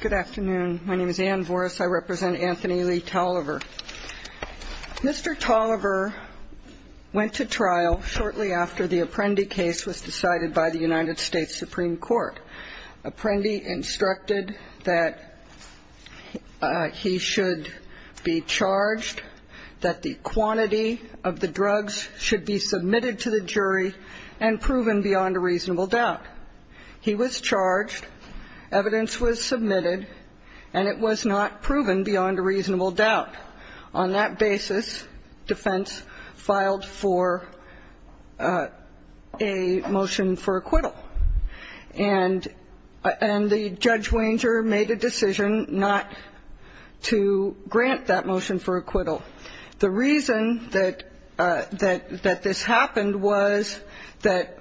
Good afternoon. My name is Anne Voris. I represent Anthony Lee Toliver. Mr. Toliver went to trial shortly after the Apprendi case was decided by the United States Supreme Court. Apprendi instructed that he should be charged, that the quantity of the drugs should be submitted to the jury and proven beyond a reasonable doubt. He was charged, evidence was submitted, and it was not proven beyond a reasonable doubt. On that basis, defense filed for a motion for acquittal. And the judge wager made a decision not to grant that motion for acquittal. The reason that this happened was that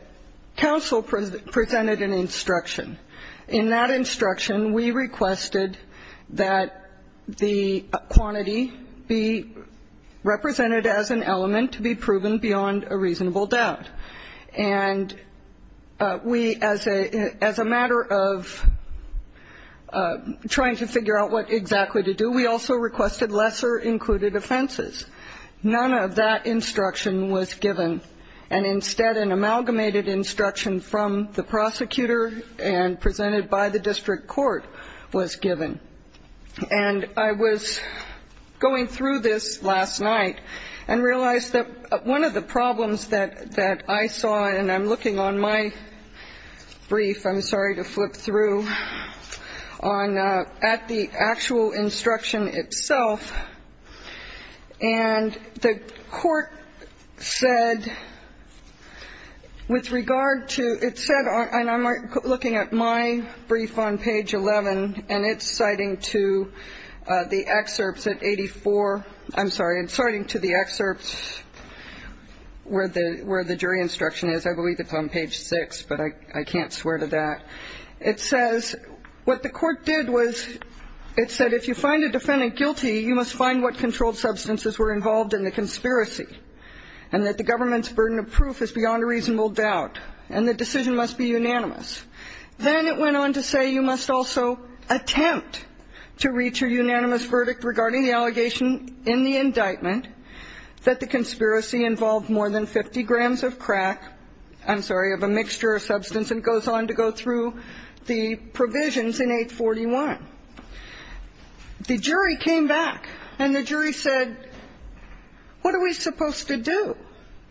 counsel presented an instruction. In that instruction, we requested that the quantity be represented as an element to be proven beyond a reasonable doubt. And we, as a matter of trying to figure out what exactly to do, we also requested lesser included offenses. None of that instruction was given. And instead, an amalgamated instruction from the prosecutor and presented by the district court was given. And I was going through this last night and realized that one of the problems that I saw, and I'm looking on my brief, I'm sorry to flip through, I'm looking at the actual instruction itself, and the court said, with regard to, it said, and I'm looking at my brief on page 11, and it's citing to the excerpts at 84, I'm sorry, it's citing to the excerpts where the jury instruction is, I believe it's on page 6, but I can't swear to that. It says what the court did was it said if you find a defendant guilty, you must find what controlled substances were involved in the conspiracy and that the government's burden of proof is beyond a reasonable doubt and the decision must be unanimous. Then it went on to say you must also attempt to reach a unanimous verdict regarding the allegation in the indictment that the conspiracy involved more than 50 grams of crack, I'm sorry, of a mixture of substance and goes on to go through the provisions in 841. The jury came back and the jury said, what are we supposed to do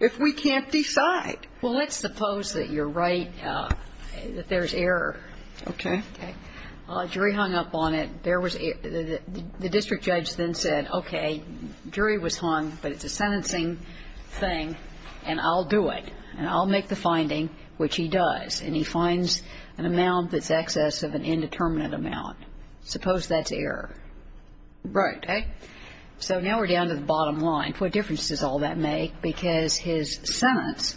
if we can't decide? Well, let's suppose that you're right, that there's error. Okay. Okay. A jury hung up on it. The district judge then said, okay, jury was hung, but it's a sentencing thing, and I'll do it. And I'll make the finding, which he does. And he finds an amount that's excess of an indeterminate amount. Suppose that's error. Right. Okay. So now we're down to the bottom line. What difference does all that make? Because his sentence,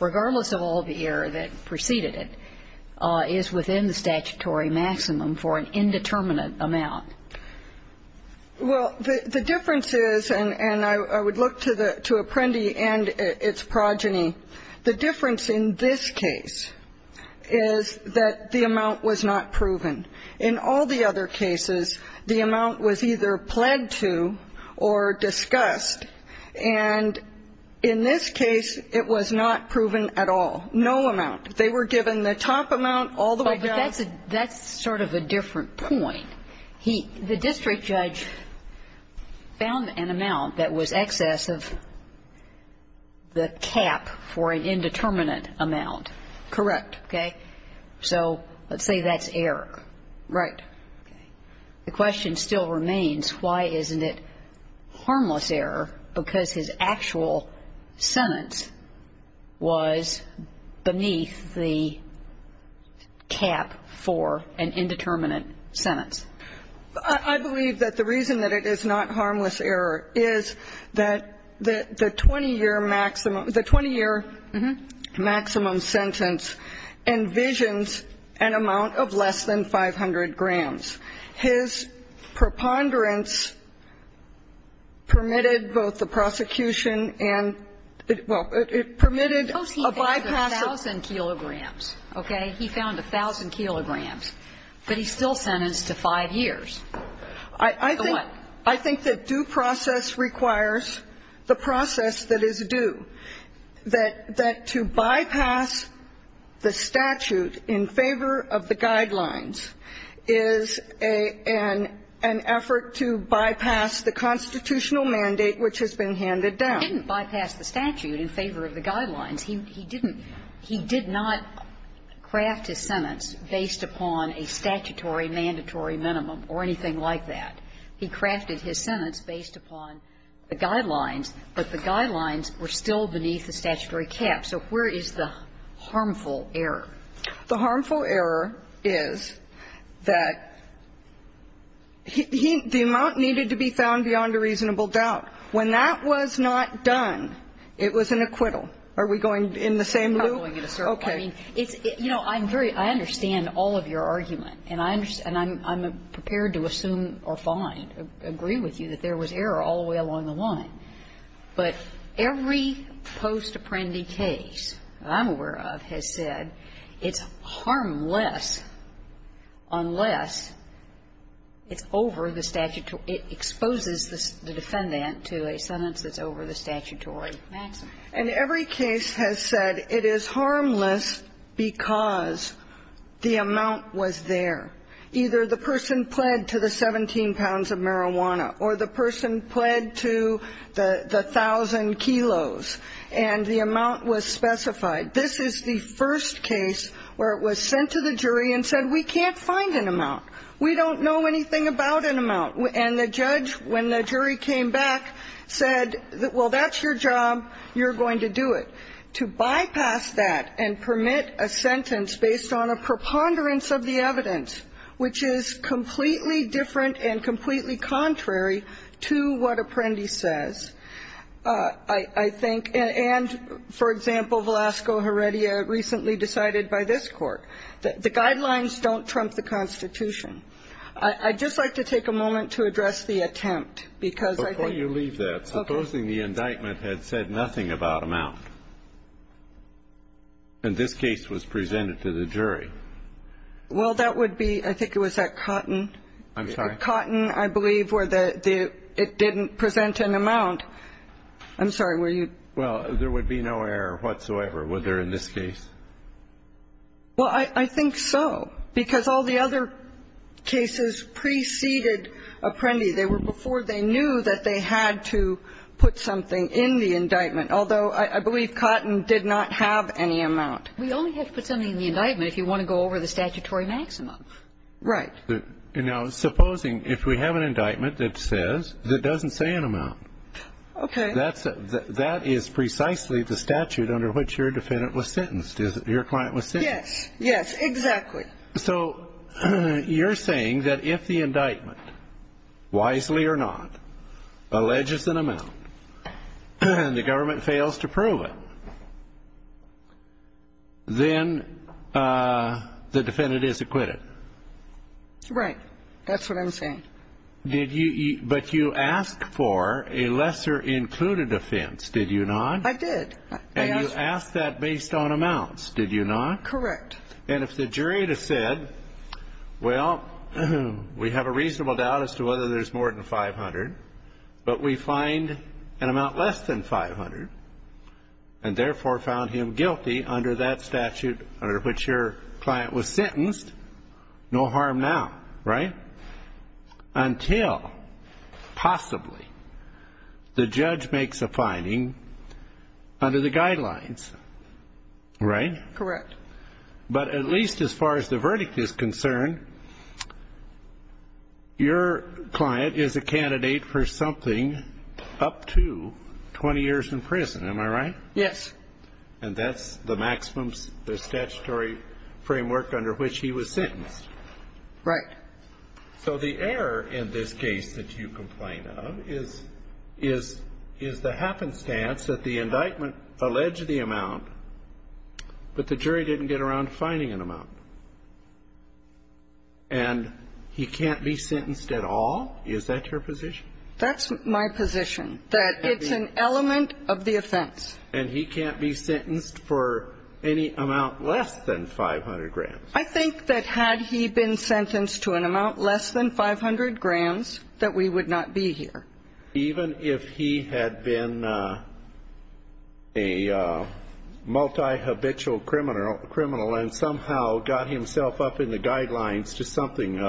regardless of all the error that preceded it, is within the statutory maximum for an indeterminate amount. Well, the difference is, and I would look to Apprendi and its progeny, the difference in this case is that the amount was not proven. In all the other cases, the amount was either pledged to or discussed. And in this case, it was not proven at all. No amount. They were given the top amount all the way down. But that's sort of a different point. The district judge found an amount that was excess of the cap for an indeterminate amount. Correct. Okay. So let's say that's error. Right. Okay. The question still remains, why isn't it harmless error? Because his actual sentence was beneath the cap for an indeterminate sentence. I believe that the reason that it is not harmless error is that the 20-year maximum sentence envisions an amount of less than 500 grams. His preponderance permitted both the prosecution and, well, it permitted a bypass of Suppose he found 1,000 kilograms. Okay. He found 1,000 kilograms. But he's still sentenced to 5 years. I think that due process requires the process that is due. That to bypass the statute in favor of the guidelines is an effort to bypass the constitutional mandate which has been handed down. He didn't bypass the statute in favor of the guidelines. He didn't. He did not craft his sentence based upon a statutory mandatory minimum or anything like that. He crafted his sentence based upon the guidelines. But the guidelines were still beneath the statutory cap. So where is the harmful error? The harmful error is that the amount needed to be found beyond a reasonable doubt. When that was not done, it was an acquittal. Are we going in the same loop? Okay. You know, I'm very – I understand all of your argument. And I'm prepared to assume or find, agree with you, that there was error all the way along the line. But every post-apprendi case that I'm aware of has said it's harmless unless it's over the statutory – it exposes the defendant to a sentence that's over the statutory maximum. And every case has said it is harmless because the amount was there. Either the person pled to the 17 pounds of marijuana or the person pled to the thousand kilos. And the amount was specified. This is the first case where it was sent to the jury and said, we can't find an amount. We don't know anything about an amount. And the judge, when the jury came back, said, well, that's your job. You're going to do it. To bypass that and permit a sentence based on a preponderance of the evidence, which is completely different and completely contrary to what Apprendi says, I think would be a good thing. And for example, Velazco-Heredia recently decided by this Court, the guidelines don't trump the Constitution. I'd just like to take a moment to address the attempt, because I think – Before you leave that, supposing the indictment had said nothing about amount and this case was presented to the jury? Well, that would be – I think it was at Cotton. I'm sorry? Cotton, I believe, where it didn't present an amount. I'm sorry. Were you – Well, there would be no error whatsoever, would there, in this case? Well, I think so, because all the other cases preceded Apprendi. They were before they knew that they had to put something in the indictment, although I believe Cotton did not have any amount. We only have to put something in the indictment if you want to go over the statutory maximum. Right. Now, supposing if we have an indictment that says – that doesn't say an amount. Okay. That is precisely the statute under which your defendant was sentenced, your client was sentenced. Yes. Yes, exactly. So you're saying that if the indictment, wisely or not, alleges an amount and the defendant is acquitted? Right. That's what I'm saying. Did you – but you asked for a lesser included offense, did you not? I did. And you asked that based on amounts, did you not? Correct. And if the jury had said, well, we have a reasonable doubt as to whether there's more than 500, but we find an amount less than 500 and therefore found him guilty under that statute under which your client was sentenced, no harm now. Right? Until, possibly, the judge makes a finding under the guidelines. Right? Correct. But at least as far as the verdict is concerned, your client is a candidate for something up to 20 years in prison. Am I right? Yes. And that's the maximum statutory framework under which he was sentenced. Right. So the error in this case that you complain of is the happenstance that the indictment alleged the amount, but the jury didn't get around to finding an amount. And he can't be sentenced at all? Is that your position? That's my position, that it's an element of the offense. And he can't be sentenced for any amount less than 500 grams? I think that had he been sentenced to an amount less than 500 grams, that we would not be here. Even if he had been a multi-habitual criminal and somehow got himself up in the guidelines to something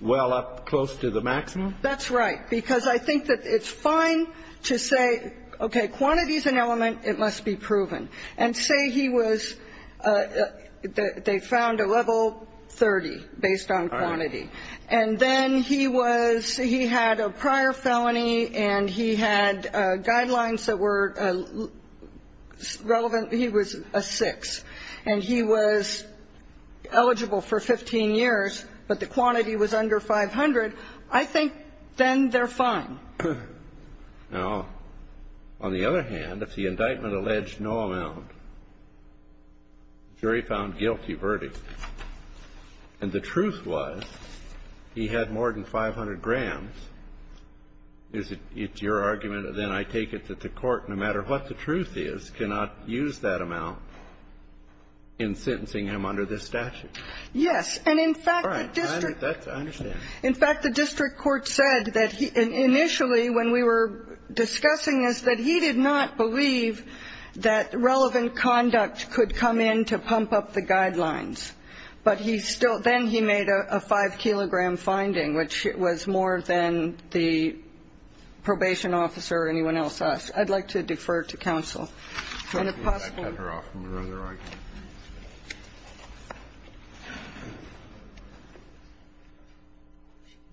well up close to the maximum? That's right. Because I think that it's fine to say, okay, quantity is an element. It must be proven. And say he was they found a level 30 based on quantity. All right. And then he was he had a prior felony and he had guidelines that were relevant. He was a 6. And he was eligible for 15 years, but the quantity was under 500. If he was in the district, I think then they're fine. Now, on the other hand, if the indictment alleged no amount, jury found guilty verdict. And the truth was he had more than 500 grams. Is it your argument, then I take it, that the Court, no matter what the truth is, cannot use that amount in sentencing him under this statute? Yes. And in fact, the district. All right. I understand. In fact, the district court said that initially when we were discussing this, that he did not believe that relevant conduct could come in to pump up the guidelines. But he still then he made a 5-kilogram finding, which was more than the probation officer or anyone else asked. I'd like to defer to counsel. And if possible. I cut her off from her other argument.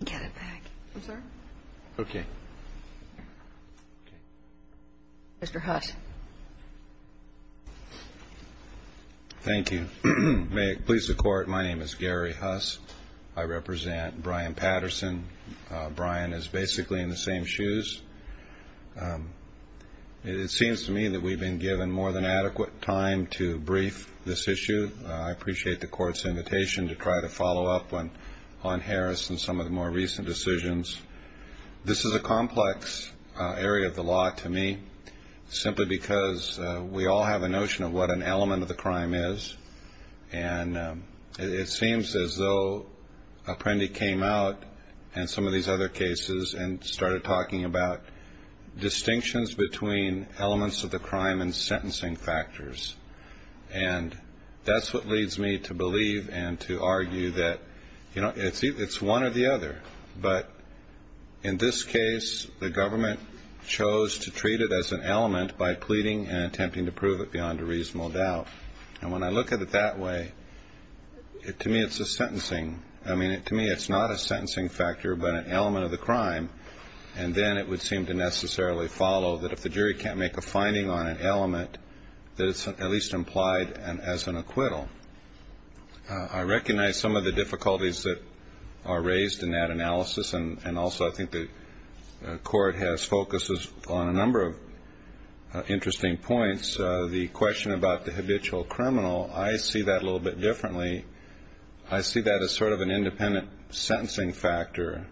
Get it back. I'm sorry? Okay. Mr. Huss. Thank you. May it please the Court, my name is Gary Huss. I represent Brian Patterson. Brian is basically in the same shoes. It seems to me that we've been given more than adequate time to brief this issue. I appreciate the Court's invitation to try to follow up on Harris and some of the more recent decisions. This is a complex area of the law to me, simply because we all have a notion of what an element of the crime is. And it seems as though Apprendi came out in some of these other cases and started talking about distinctions between elements of the crime and sentencing factors. And that's what leads me to believe and to argue that it's one or the other. But in this case, the government chose to treat it as an element by pleading and attempting to prove it beyond a reasonable doubt. And when I look at it that way, to me it's a sentencing. I mean, to me it's not a sentencing factor, but an element of the crime. And then it would seem to necessarily follow that if the jury can't make a finding on an element, that it's at least implied as an acquittal. I recognize some of the difficulties that are raised in that analysis. And also I think the Court has focused on a number of interesting points. The question about the habitual criminal, I see that a little bit differently. I see that as sort of an independent sentencing factor.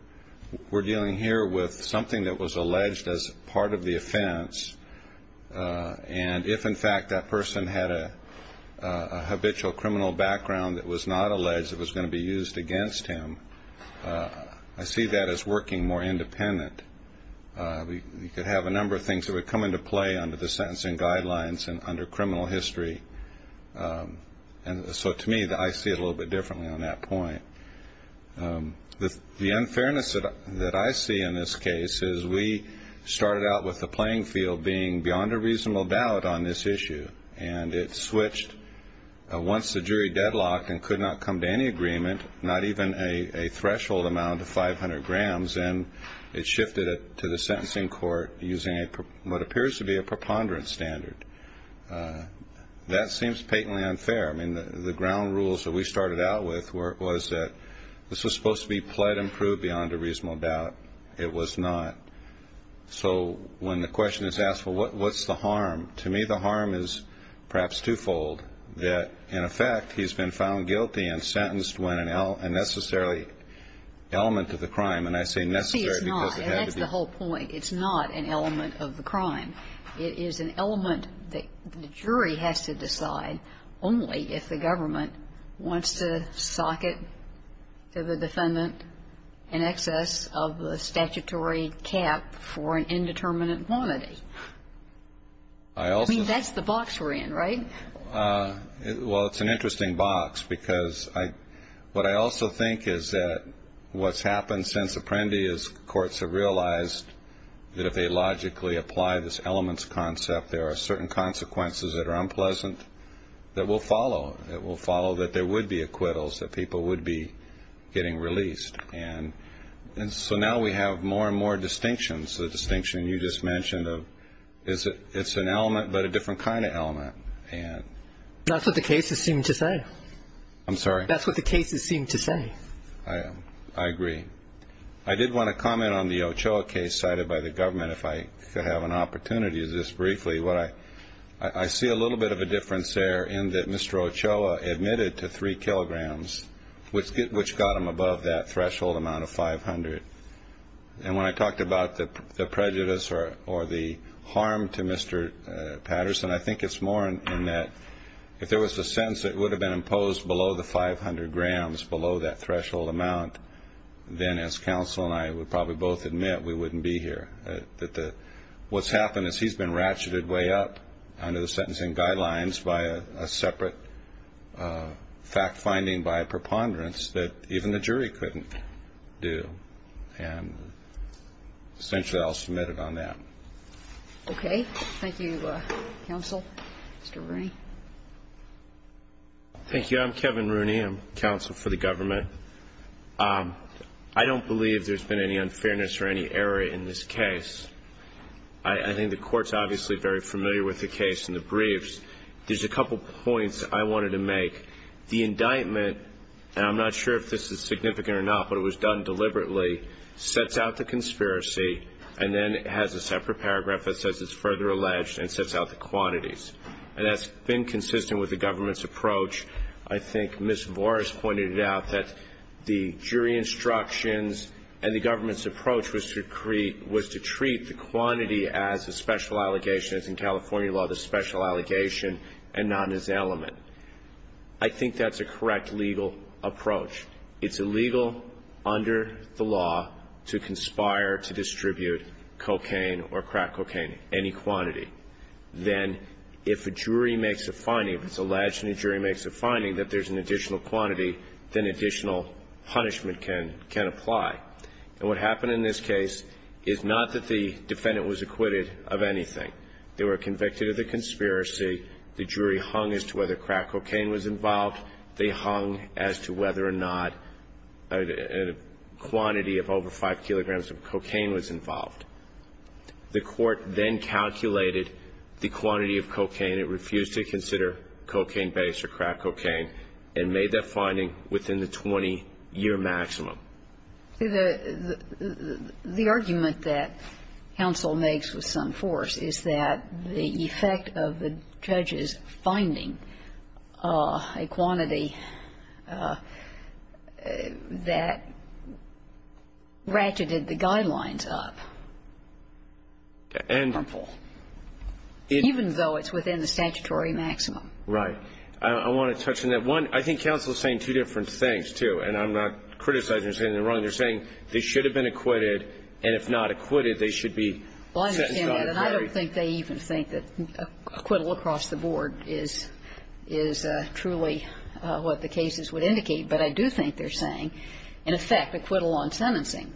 We're dealing here with something that was alleged as part of the offense. And if, in fact, that person had a habitual criminal background that was not alleged that was going to be used against him, I see that as working more independent. You could have a number of things that would come into play under the sentencing guidelines and under criminal history. And so to me, I see it a little bit differently on that point. The unfairness that I see in this case is we started out with the playing field being beyond a reasonable doubt on this issue. And it switched once the jury deadlocked and could not come to any agreement, not even a threshold amount of 500 grams. And it shifted it to the sentencing court using what appears to be a preponderance standard. That seems patently unfair. I mean, the ground rules that we started out with was that this was supposed to be played and proved beyond a reasonable doubt. It was not. So when the question is asked, well, what's the harm? To me, the harm is perhaps twofold, that, in effect, he's been found guilty and sentenced when an element of the crime. And I say necessary because it had to be. See, it's not, and that's the whole point. It's not an element of the crime. It is an element that the jury has to decide only if the government wants to socket to the defendant in excess of the statutory cap for an indeterminate quantity. I mean, that's the box we're in, right? Well, it's an interesting box because what I also think is that what's happened since Apprendi is courts have realized that if they logically apply this elements concept, there are certain consequences that are unpleasant that will follow. It will follow that there would be acquittals, that people would be getting released. And so now we have more and more distinctions, the distinction you just mentioned of it's an element but a different kind of element. That's what the cases seem to say. I'm sorry? That's what the cases seem to say. I agree. I did want to comment on the Ochoa case cited by the government, if I could have an opportunity to do this briefly. I see a little bit of a difference there in that Mr. Ochoa admitted to three kilograms, which got him above that threshold amount of 500. And when I talked about the prejudice or the harm to Mr. Patterson, I think it's more in that if there was a sentence that would have been imposed below the 500 grams, below that threshold amount, then as counsel and I would probably both admit, we wouldn't be here. What's happened is he's been ratcheted way up under the sentencing guidelines by a separate fact finding by a preponderance that even the jury couldn't do. And essentially I'll submit it on that. Thank you, counsel. Mr. Rooney? Thank you. I'm Kevin Rooney. I am counsel for the government. I don't believe there's been any unfairness or any error in this case. I think the Court's obviously very familiar with the case in the briefs. There's a couple points I wanted to make. The indictment, and I'm not sure if this is significant or not, but it was done deliberately, sets out the conspiracy and then has a separate paragraph that says it's further alleged and sets out the quantities. And that's been consistent with the government's approach. I think Ms. Vores pointed out that the jury instructions and the government's approach was to treat the quantity as a special allegation, as in California law, the special allegation and not as element. I think that's a correct legal approach. It's illegal under the law to conspire to distribute cocaine or crack cocaine, any quantity. Then if a jury makes a finding, if it's alleged and a jury makes a finding that there's an additional quantity, then additional punishment can apply. And what happened in this case is not that the defendant was acquitted of anything. They were convicted of the conspiracy. The jury hung as to whether crack cocaine was involved. They hung as to whether or not a quantity of over 5 kilograms of cocaine was involved. The court then calculated the quantity of cocaine. It refused to consider cocaine base or crack cocaine and made that finding within the 20-year maximum. The argument that counsel makes with some force is that the effect of the judge's finding, a quantity that ratcheted the guidelines up, harmful, even though it's within the statutory maximum. Right. I want to touch on that. One, I think counsel is saying two different things, too. And I'm not criticizing or saying anything wrong. They're saying they should have been acquitted, and if not acquitted, they should be sentenced on a jury. Well, I understand that. And I don't think they even think that acquittal across the board is truly what the cases would indicate. But I do think they're saying, in effect, acquittal on sentencing.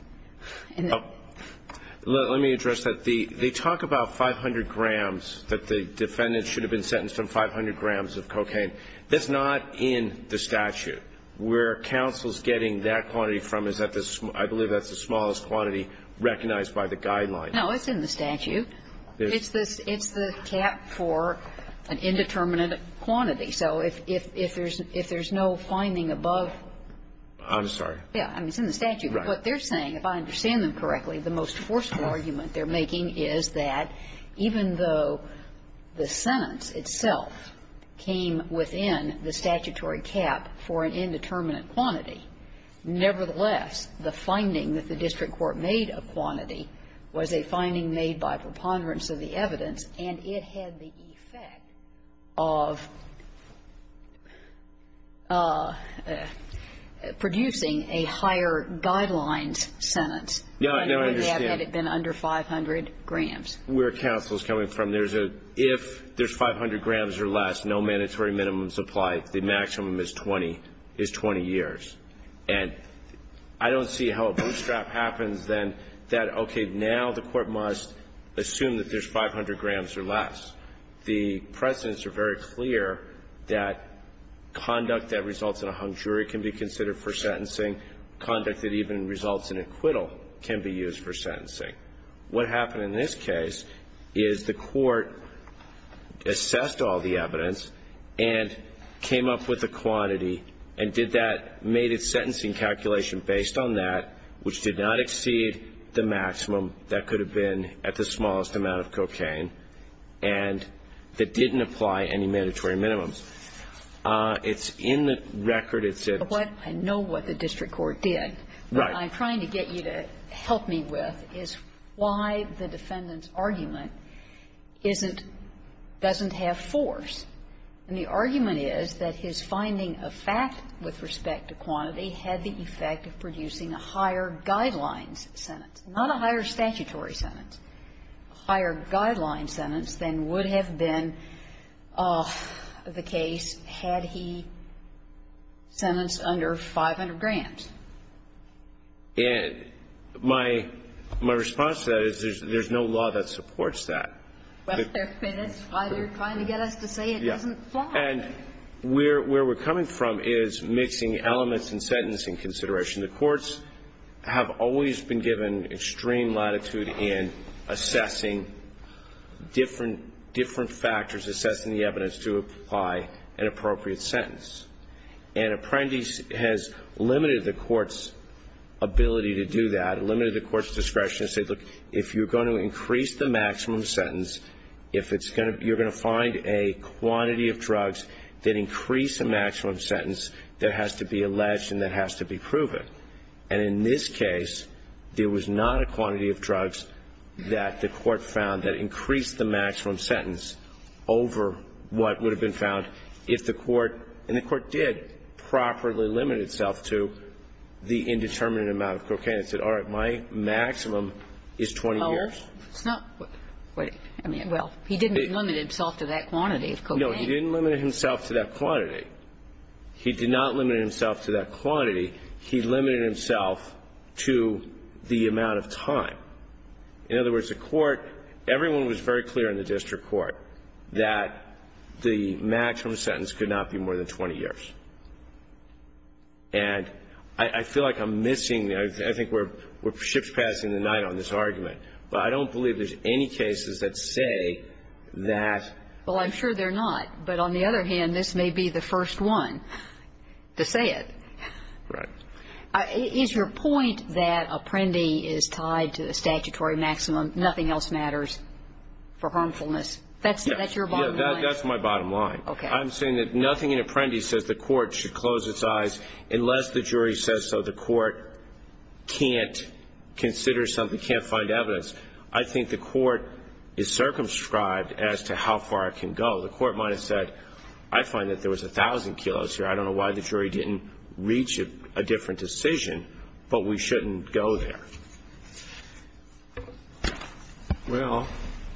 Let me address that. They talk about 500 grams, that the defendant should have been sentenced on 500 grams of cocaine. That's not in the statute. Where counsel's getting that quantity from is at the, I believe that's the smallest quantity recognized by the guidelines. No, it's in the statute. It's the cap for an indeterminate quantity. So if there's no finding above. I'm sorry. Yeah. I mean, it's in the statute. But what they're saying, if I understand them correctly, the most forceful argument they're making is that even though the sentence itself came within the statutory cap for an indeterminate quantity, nevertheless, the finding that the district court made of quantity was a finding made by preponderance of the evidence, and it had the effect of producing a higher guidelines sentence. Now, I understand. Had it been under 500 grams. Where counsel's coming from, there's a, if there's 500 grams or less, no mandatory minimums apply. The maximum is 20 years. And I don't see how a bootstrap happens, then, that, okay, now the court must assume that there's 500 grams or less. The precedents are very clear that conduct that results in a hung jury can be considered for sentencing. Conduct that even results in acquittal can be used for sentencing. What happened in this case is the court assessed all the evidence and came up with a quantity and did that, made its sentencing calculation based on that, which did not exceed the maximum that could have been at the smallest amount of cocaine and that didn't apply any mandatory minimums. It's in the record. It's in the record. Kagan. I know what the district court did. Right. What I'm trying to get you to help me with is why the defendant's argument isn't, doesn't have force. And the argument is that his finding of fact with respect to quantity had the effect of producing a higher guidelines sentence. Not a higher statutory sentence. A higher guidelines sentence than would have been the case had he sentenced under 500 grams. And my response to that is there's no law that supports that. Well, that's why they're trying to get us to say it doesn't apply. And where we're coming from is mixing elements in sentencing consideration. The courts have always been given extreme latitude in assessing different factors, assessing the evidence to apply an appropriate sentence. An apprentice has limited the court's ability to do that, limited the court's discretion to say, look, if you're going to increase the maximum sentence, if it's going to be, you're going to find a quantity of drugs that increase a maximum sentence that has to be alleged and that has to be proven. And in this case, there was not a quantity of drugs that the court found that increased the maximum sentence over what would have been found if the court, and the court did, properly limit itself to the indeterminate amount of cocaine and said, all right, my maximum is 20 years. It's not what, I mean, well, he didn't limit himself to that quantity of cocaine. No, he didn't limit himself to that quantity. He did not limit himself to that quantity. He limited himself to the amount of time. In other words, the court, everyone was very clear in the district court that the maximum sentence could not be more than 20 years. And I feel like I'm missing, I think we're ship's passing the night on this argument, but I don't believe there's any cases that say that. Well, I'm sure they're not. But on the other hand, this may be the first one to say it. Right. Is your point that Apprendi is tied to the statutory maximum, nothing else matters for harmfulness? That's your bottom line? That's my bottom line. Okay. I'm saying that nothing in Apprendi says the court should close its eyes unless the jury says so. The court can't consider something, can't find evidence. I think the court is circumscribed as to how far it can go. The court might have said, I find that there was 1,000 kilos here. I don't know why the jury didn't reach a different decision, but we shouldn't go there. Well,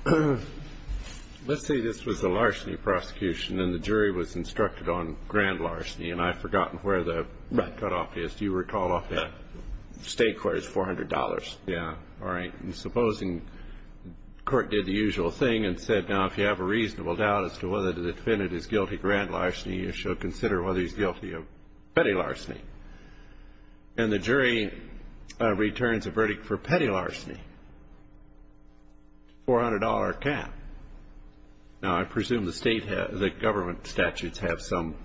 let's say this was a larceny prosecution and the jury was instructed on grand larceny and I've forgotten where the cutoff is. Do you recall? State court is $400. Yeah. All right. Supposing the court did the usual thing and said, now, if you have a reasonable doubt as to whether the defendant is guilty of grand larceny, you should consider whether he's guilty of petty larceny. And the jury returns a verdict for petty larceny, $400 cap. Now, I presume the government statutes have some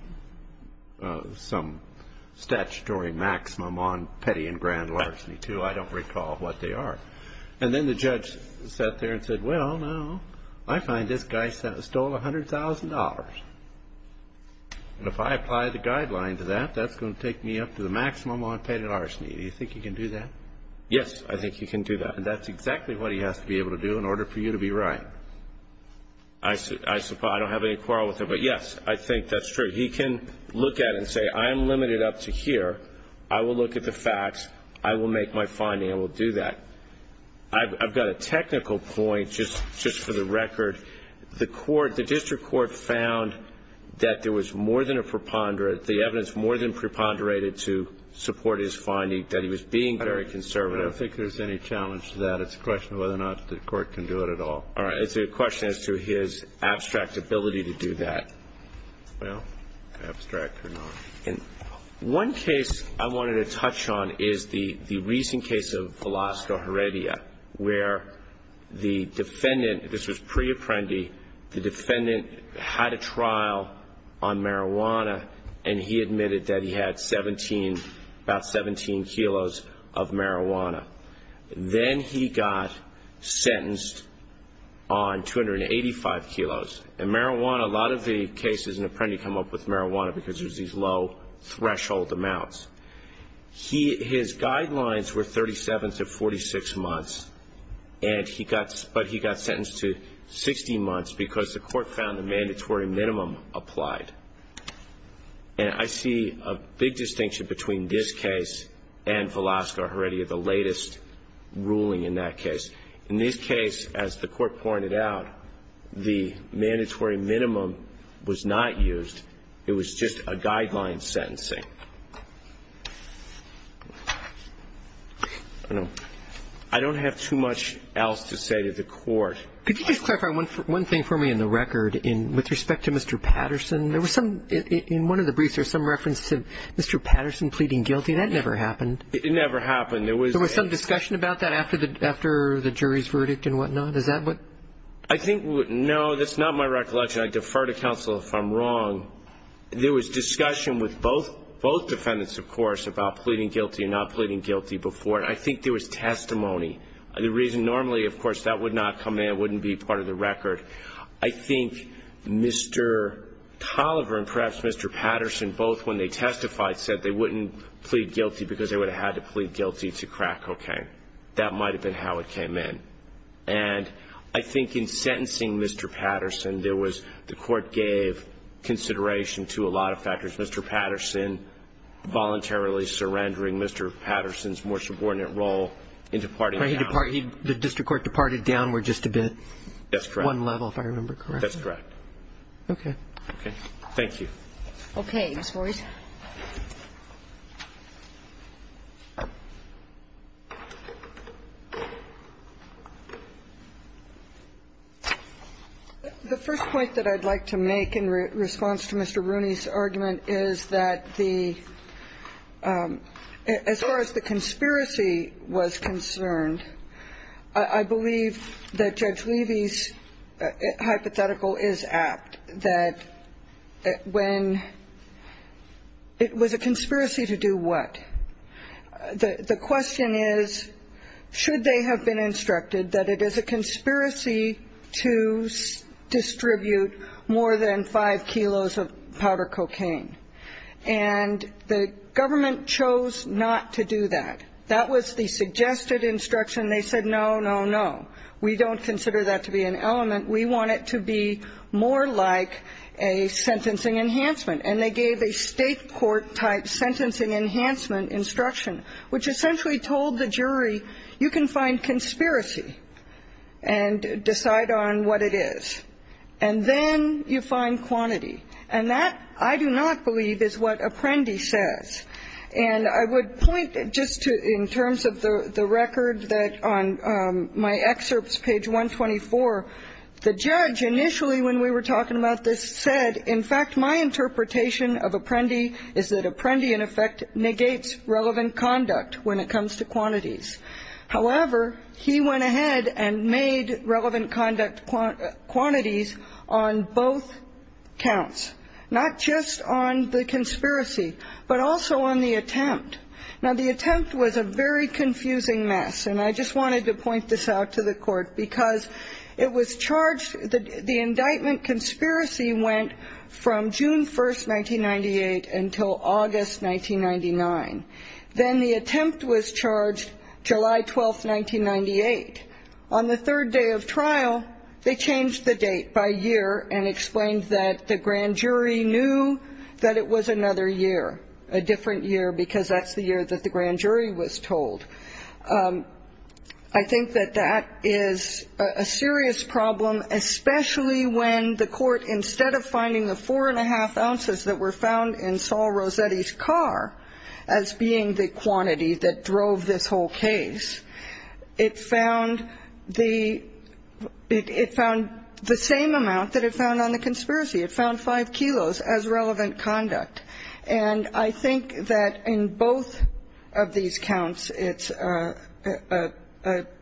statutory maximum on petty and grand larceny, too. I don't recall what they are. And then the judge sat there and said, well, now, I find this guy stole $100,000. And if I apply the guideline to that, that's going to take me up to the maximum on petty larceny. Do you think you can do that? Yes, I think you can do that. And that's exactly what he has to be able to do in order for you to be right. I don't have any quarrel with him, but, yes, I think that's true. He can look at it and say, I'm limited up to here. I will look at the facts. I will make my finding and will do that. I've got a technical point just for the record. The district court found that there was more than a preponderance, the evidence more than preponderated to support his finding that he was being very conservative. I don't think there's any challenge to that. It's a question of whether or not the court can do it at all. All right. It's a question as to his abstract ability to do that. Well, abstract or not. One case I wanted to touch on is the recent case of Velasco Heredia, where the defendant, this was pre-apprendi, the defendant had a trial on marijuana, and he admitted that he had about 17 kilos of marijuana. Then he got sentenced on 285 kilos. In marijuana, a lot of the cases in apprendi come up with marijuana because there's these low threshold amounts. His guidelines were 37 to 46 months, but he got sentenced to 16 months because the court found the mandatory minimum applied. And I see a big distinction between this case and Velasco Heredia, the latest ruling in that case. In this case, as the Court pointed out, the mandatory minimum was not used. It was just a guideline sentencing. I don't have too much else to say to the Court. Could you just clarify one thing for me in the record with respect to Mr. Patterson? In one of the briefs, there's some reference to Mr. Patterson pleading guilty. That never happened. It never happened. There was some discussion about that after the jury's verdict and whatnot. I think no, that's not my recollection. I defer to counsel if I'm wrong. There was discussion with both defendants, of course, about pleading guilty and not pleading guilty before. I think there was testimony. Normally, of course, that would not come in. It wouldn't be part of the record. I think Mr. Tolliver and perhaps Mr. Patterson both, when they testified, said they wouldn't plead guilty because they would have had to plead guilty to crack cocaine. That might have been how it came in. And I think in sentencing Mr. Patterson, the Court gave consideration to a lot of factors. I don't recall, Your Honor, the court's decision on whether to pardon Mr. Patterson voluntarily surrendering Mr. Patterson's more subordinate role in departing him. The district court departed downward just a bit. That's correct. One level, if I remember correctly. Okay. Okay. Thank you. Okay, Ms. Morris. The first point that I'd like to make in response to Mr. Rooney's argument is that the as far as the conspiracy was concerned, I believe that Judge Levy's hypothetical is apt, that when it was a conspiracy to do what? The question is, should they have been instructed that it is a conspiracy to distribute more than 5 kilos of powder cocaine? And the government chose not to do that. That was the suggested instruction. They said, no, no, no. We don't consider that to be an element. We want it to be more like a sentencing enhancement. And they gave a State court-type sentencing enhancement instruction, which essentially told the jury, you can find conspiracy and decide on what it is. And then you find quantity. And that, I do not believe, is what Apprendi says. And I would point just in terms of the record that on my excerpts, page 124, the judge initially, when we were talking about this, said, in fact, my interpretation of Apprendi is that Apprendi in effect negates relevant conduct when it comes to quantities. However, he went ahead and made relevant conduct quantities on both counts, not just on the conspiracy, but also on the attempt. Now, the attempt was a very confusing mess, and I just wanted to point this out to the court, because it was charged, the indictment conspiracy went from June 1, 1998, until August 1999. Then the attempt was charged July 12, 1998. On the third day of trial, they changed the date by year and explained that the grand jury was told that it was another year, a different year, because that's the year that the grand jury was told. I think that that is a serious problem, especially when the court, instead of finding the 4 1⁄2 ounces that were found in Saul Rossetti's car as being the quantity that drove this whole case, it found the same amount that it found on the conspiracy. It found 5 kilos as relevant conduct. And I think that in both of these counts, it's a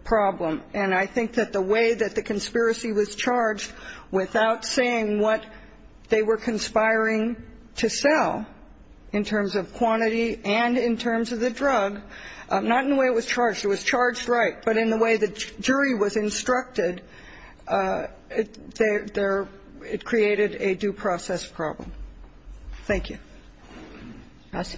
problem. And I think that the way that the conspiracy was charged without saying what they were conspiring to sell in terms of quantity and in terms of the drug, not in the way it was charged. It was charged right. But in the way the jury was instructed, it created a due process problem. Thank you. Roberts.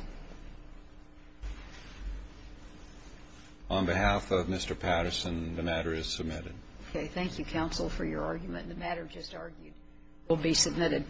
On behalf of Mr. Patterson, the matter is submitted. Okay. Thank you, counsel, for your argument. The matter just argued will be submitted.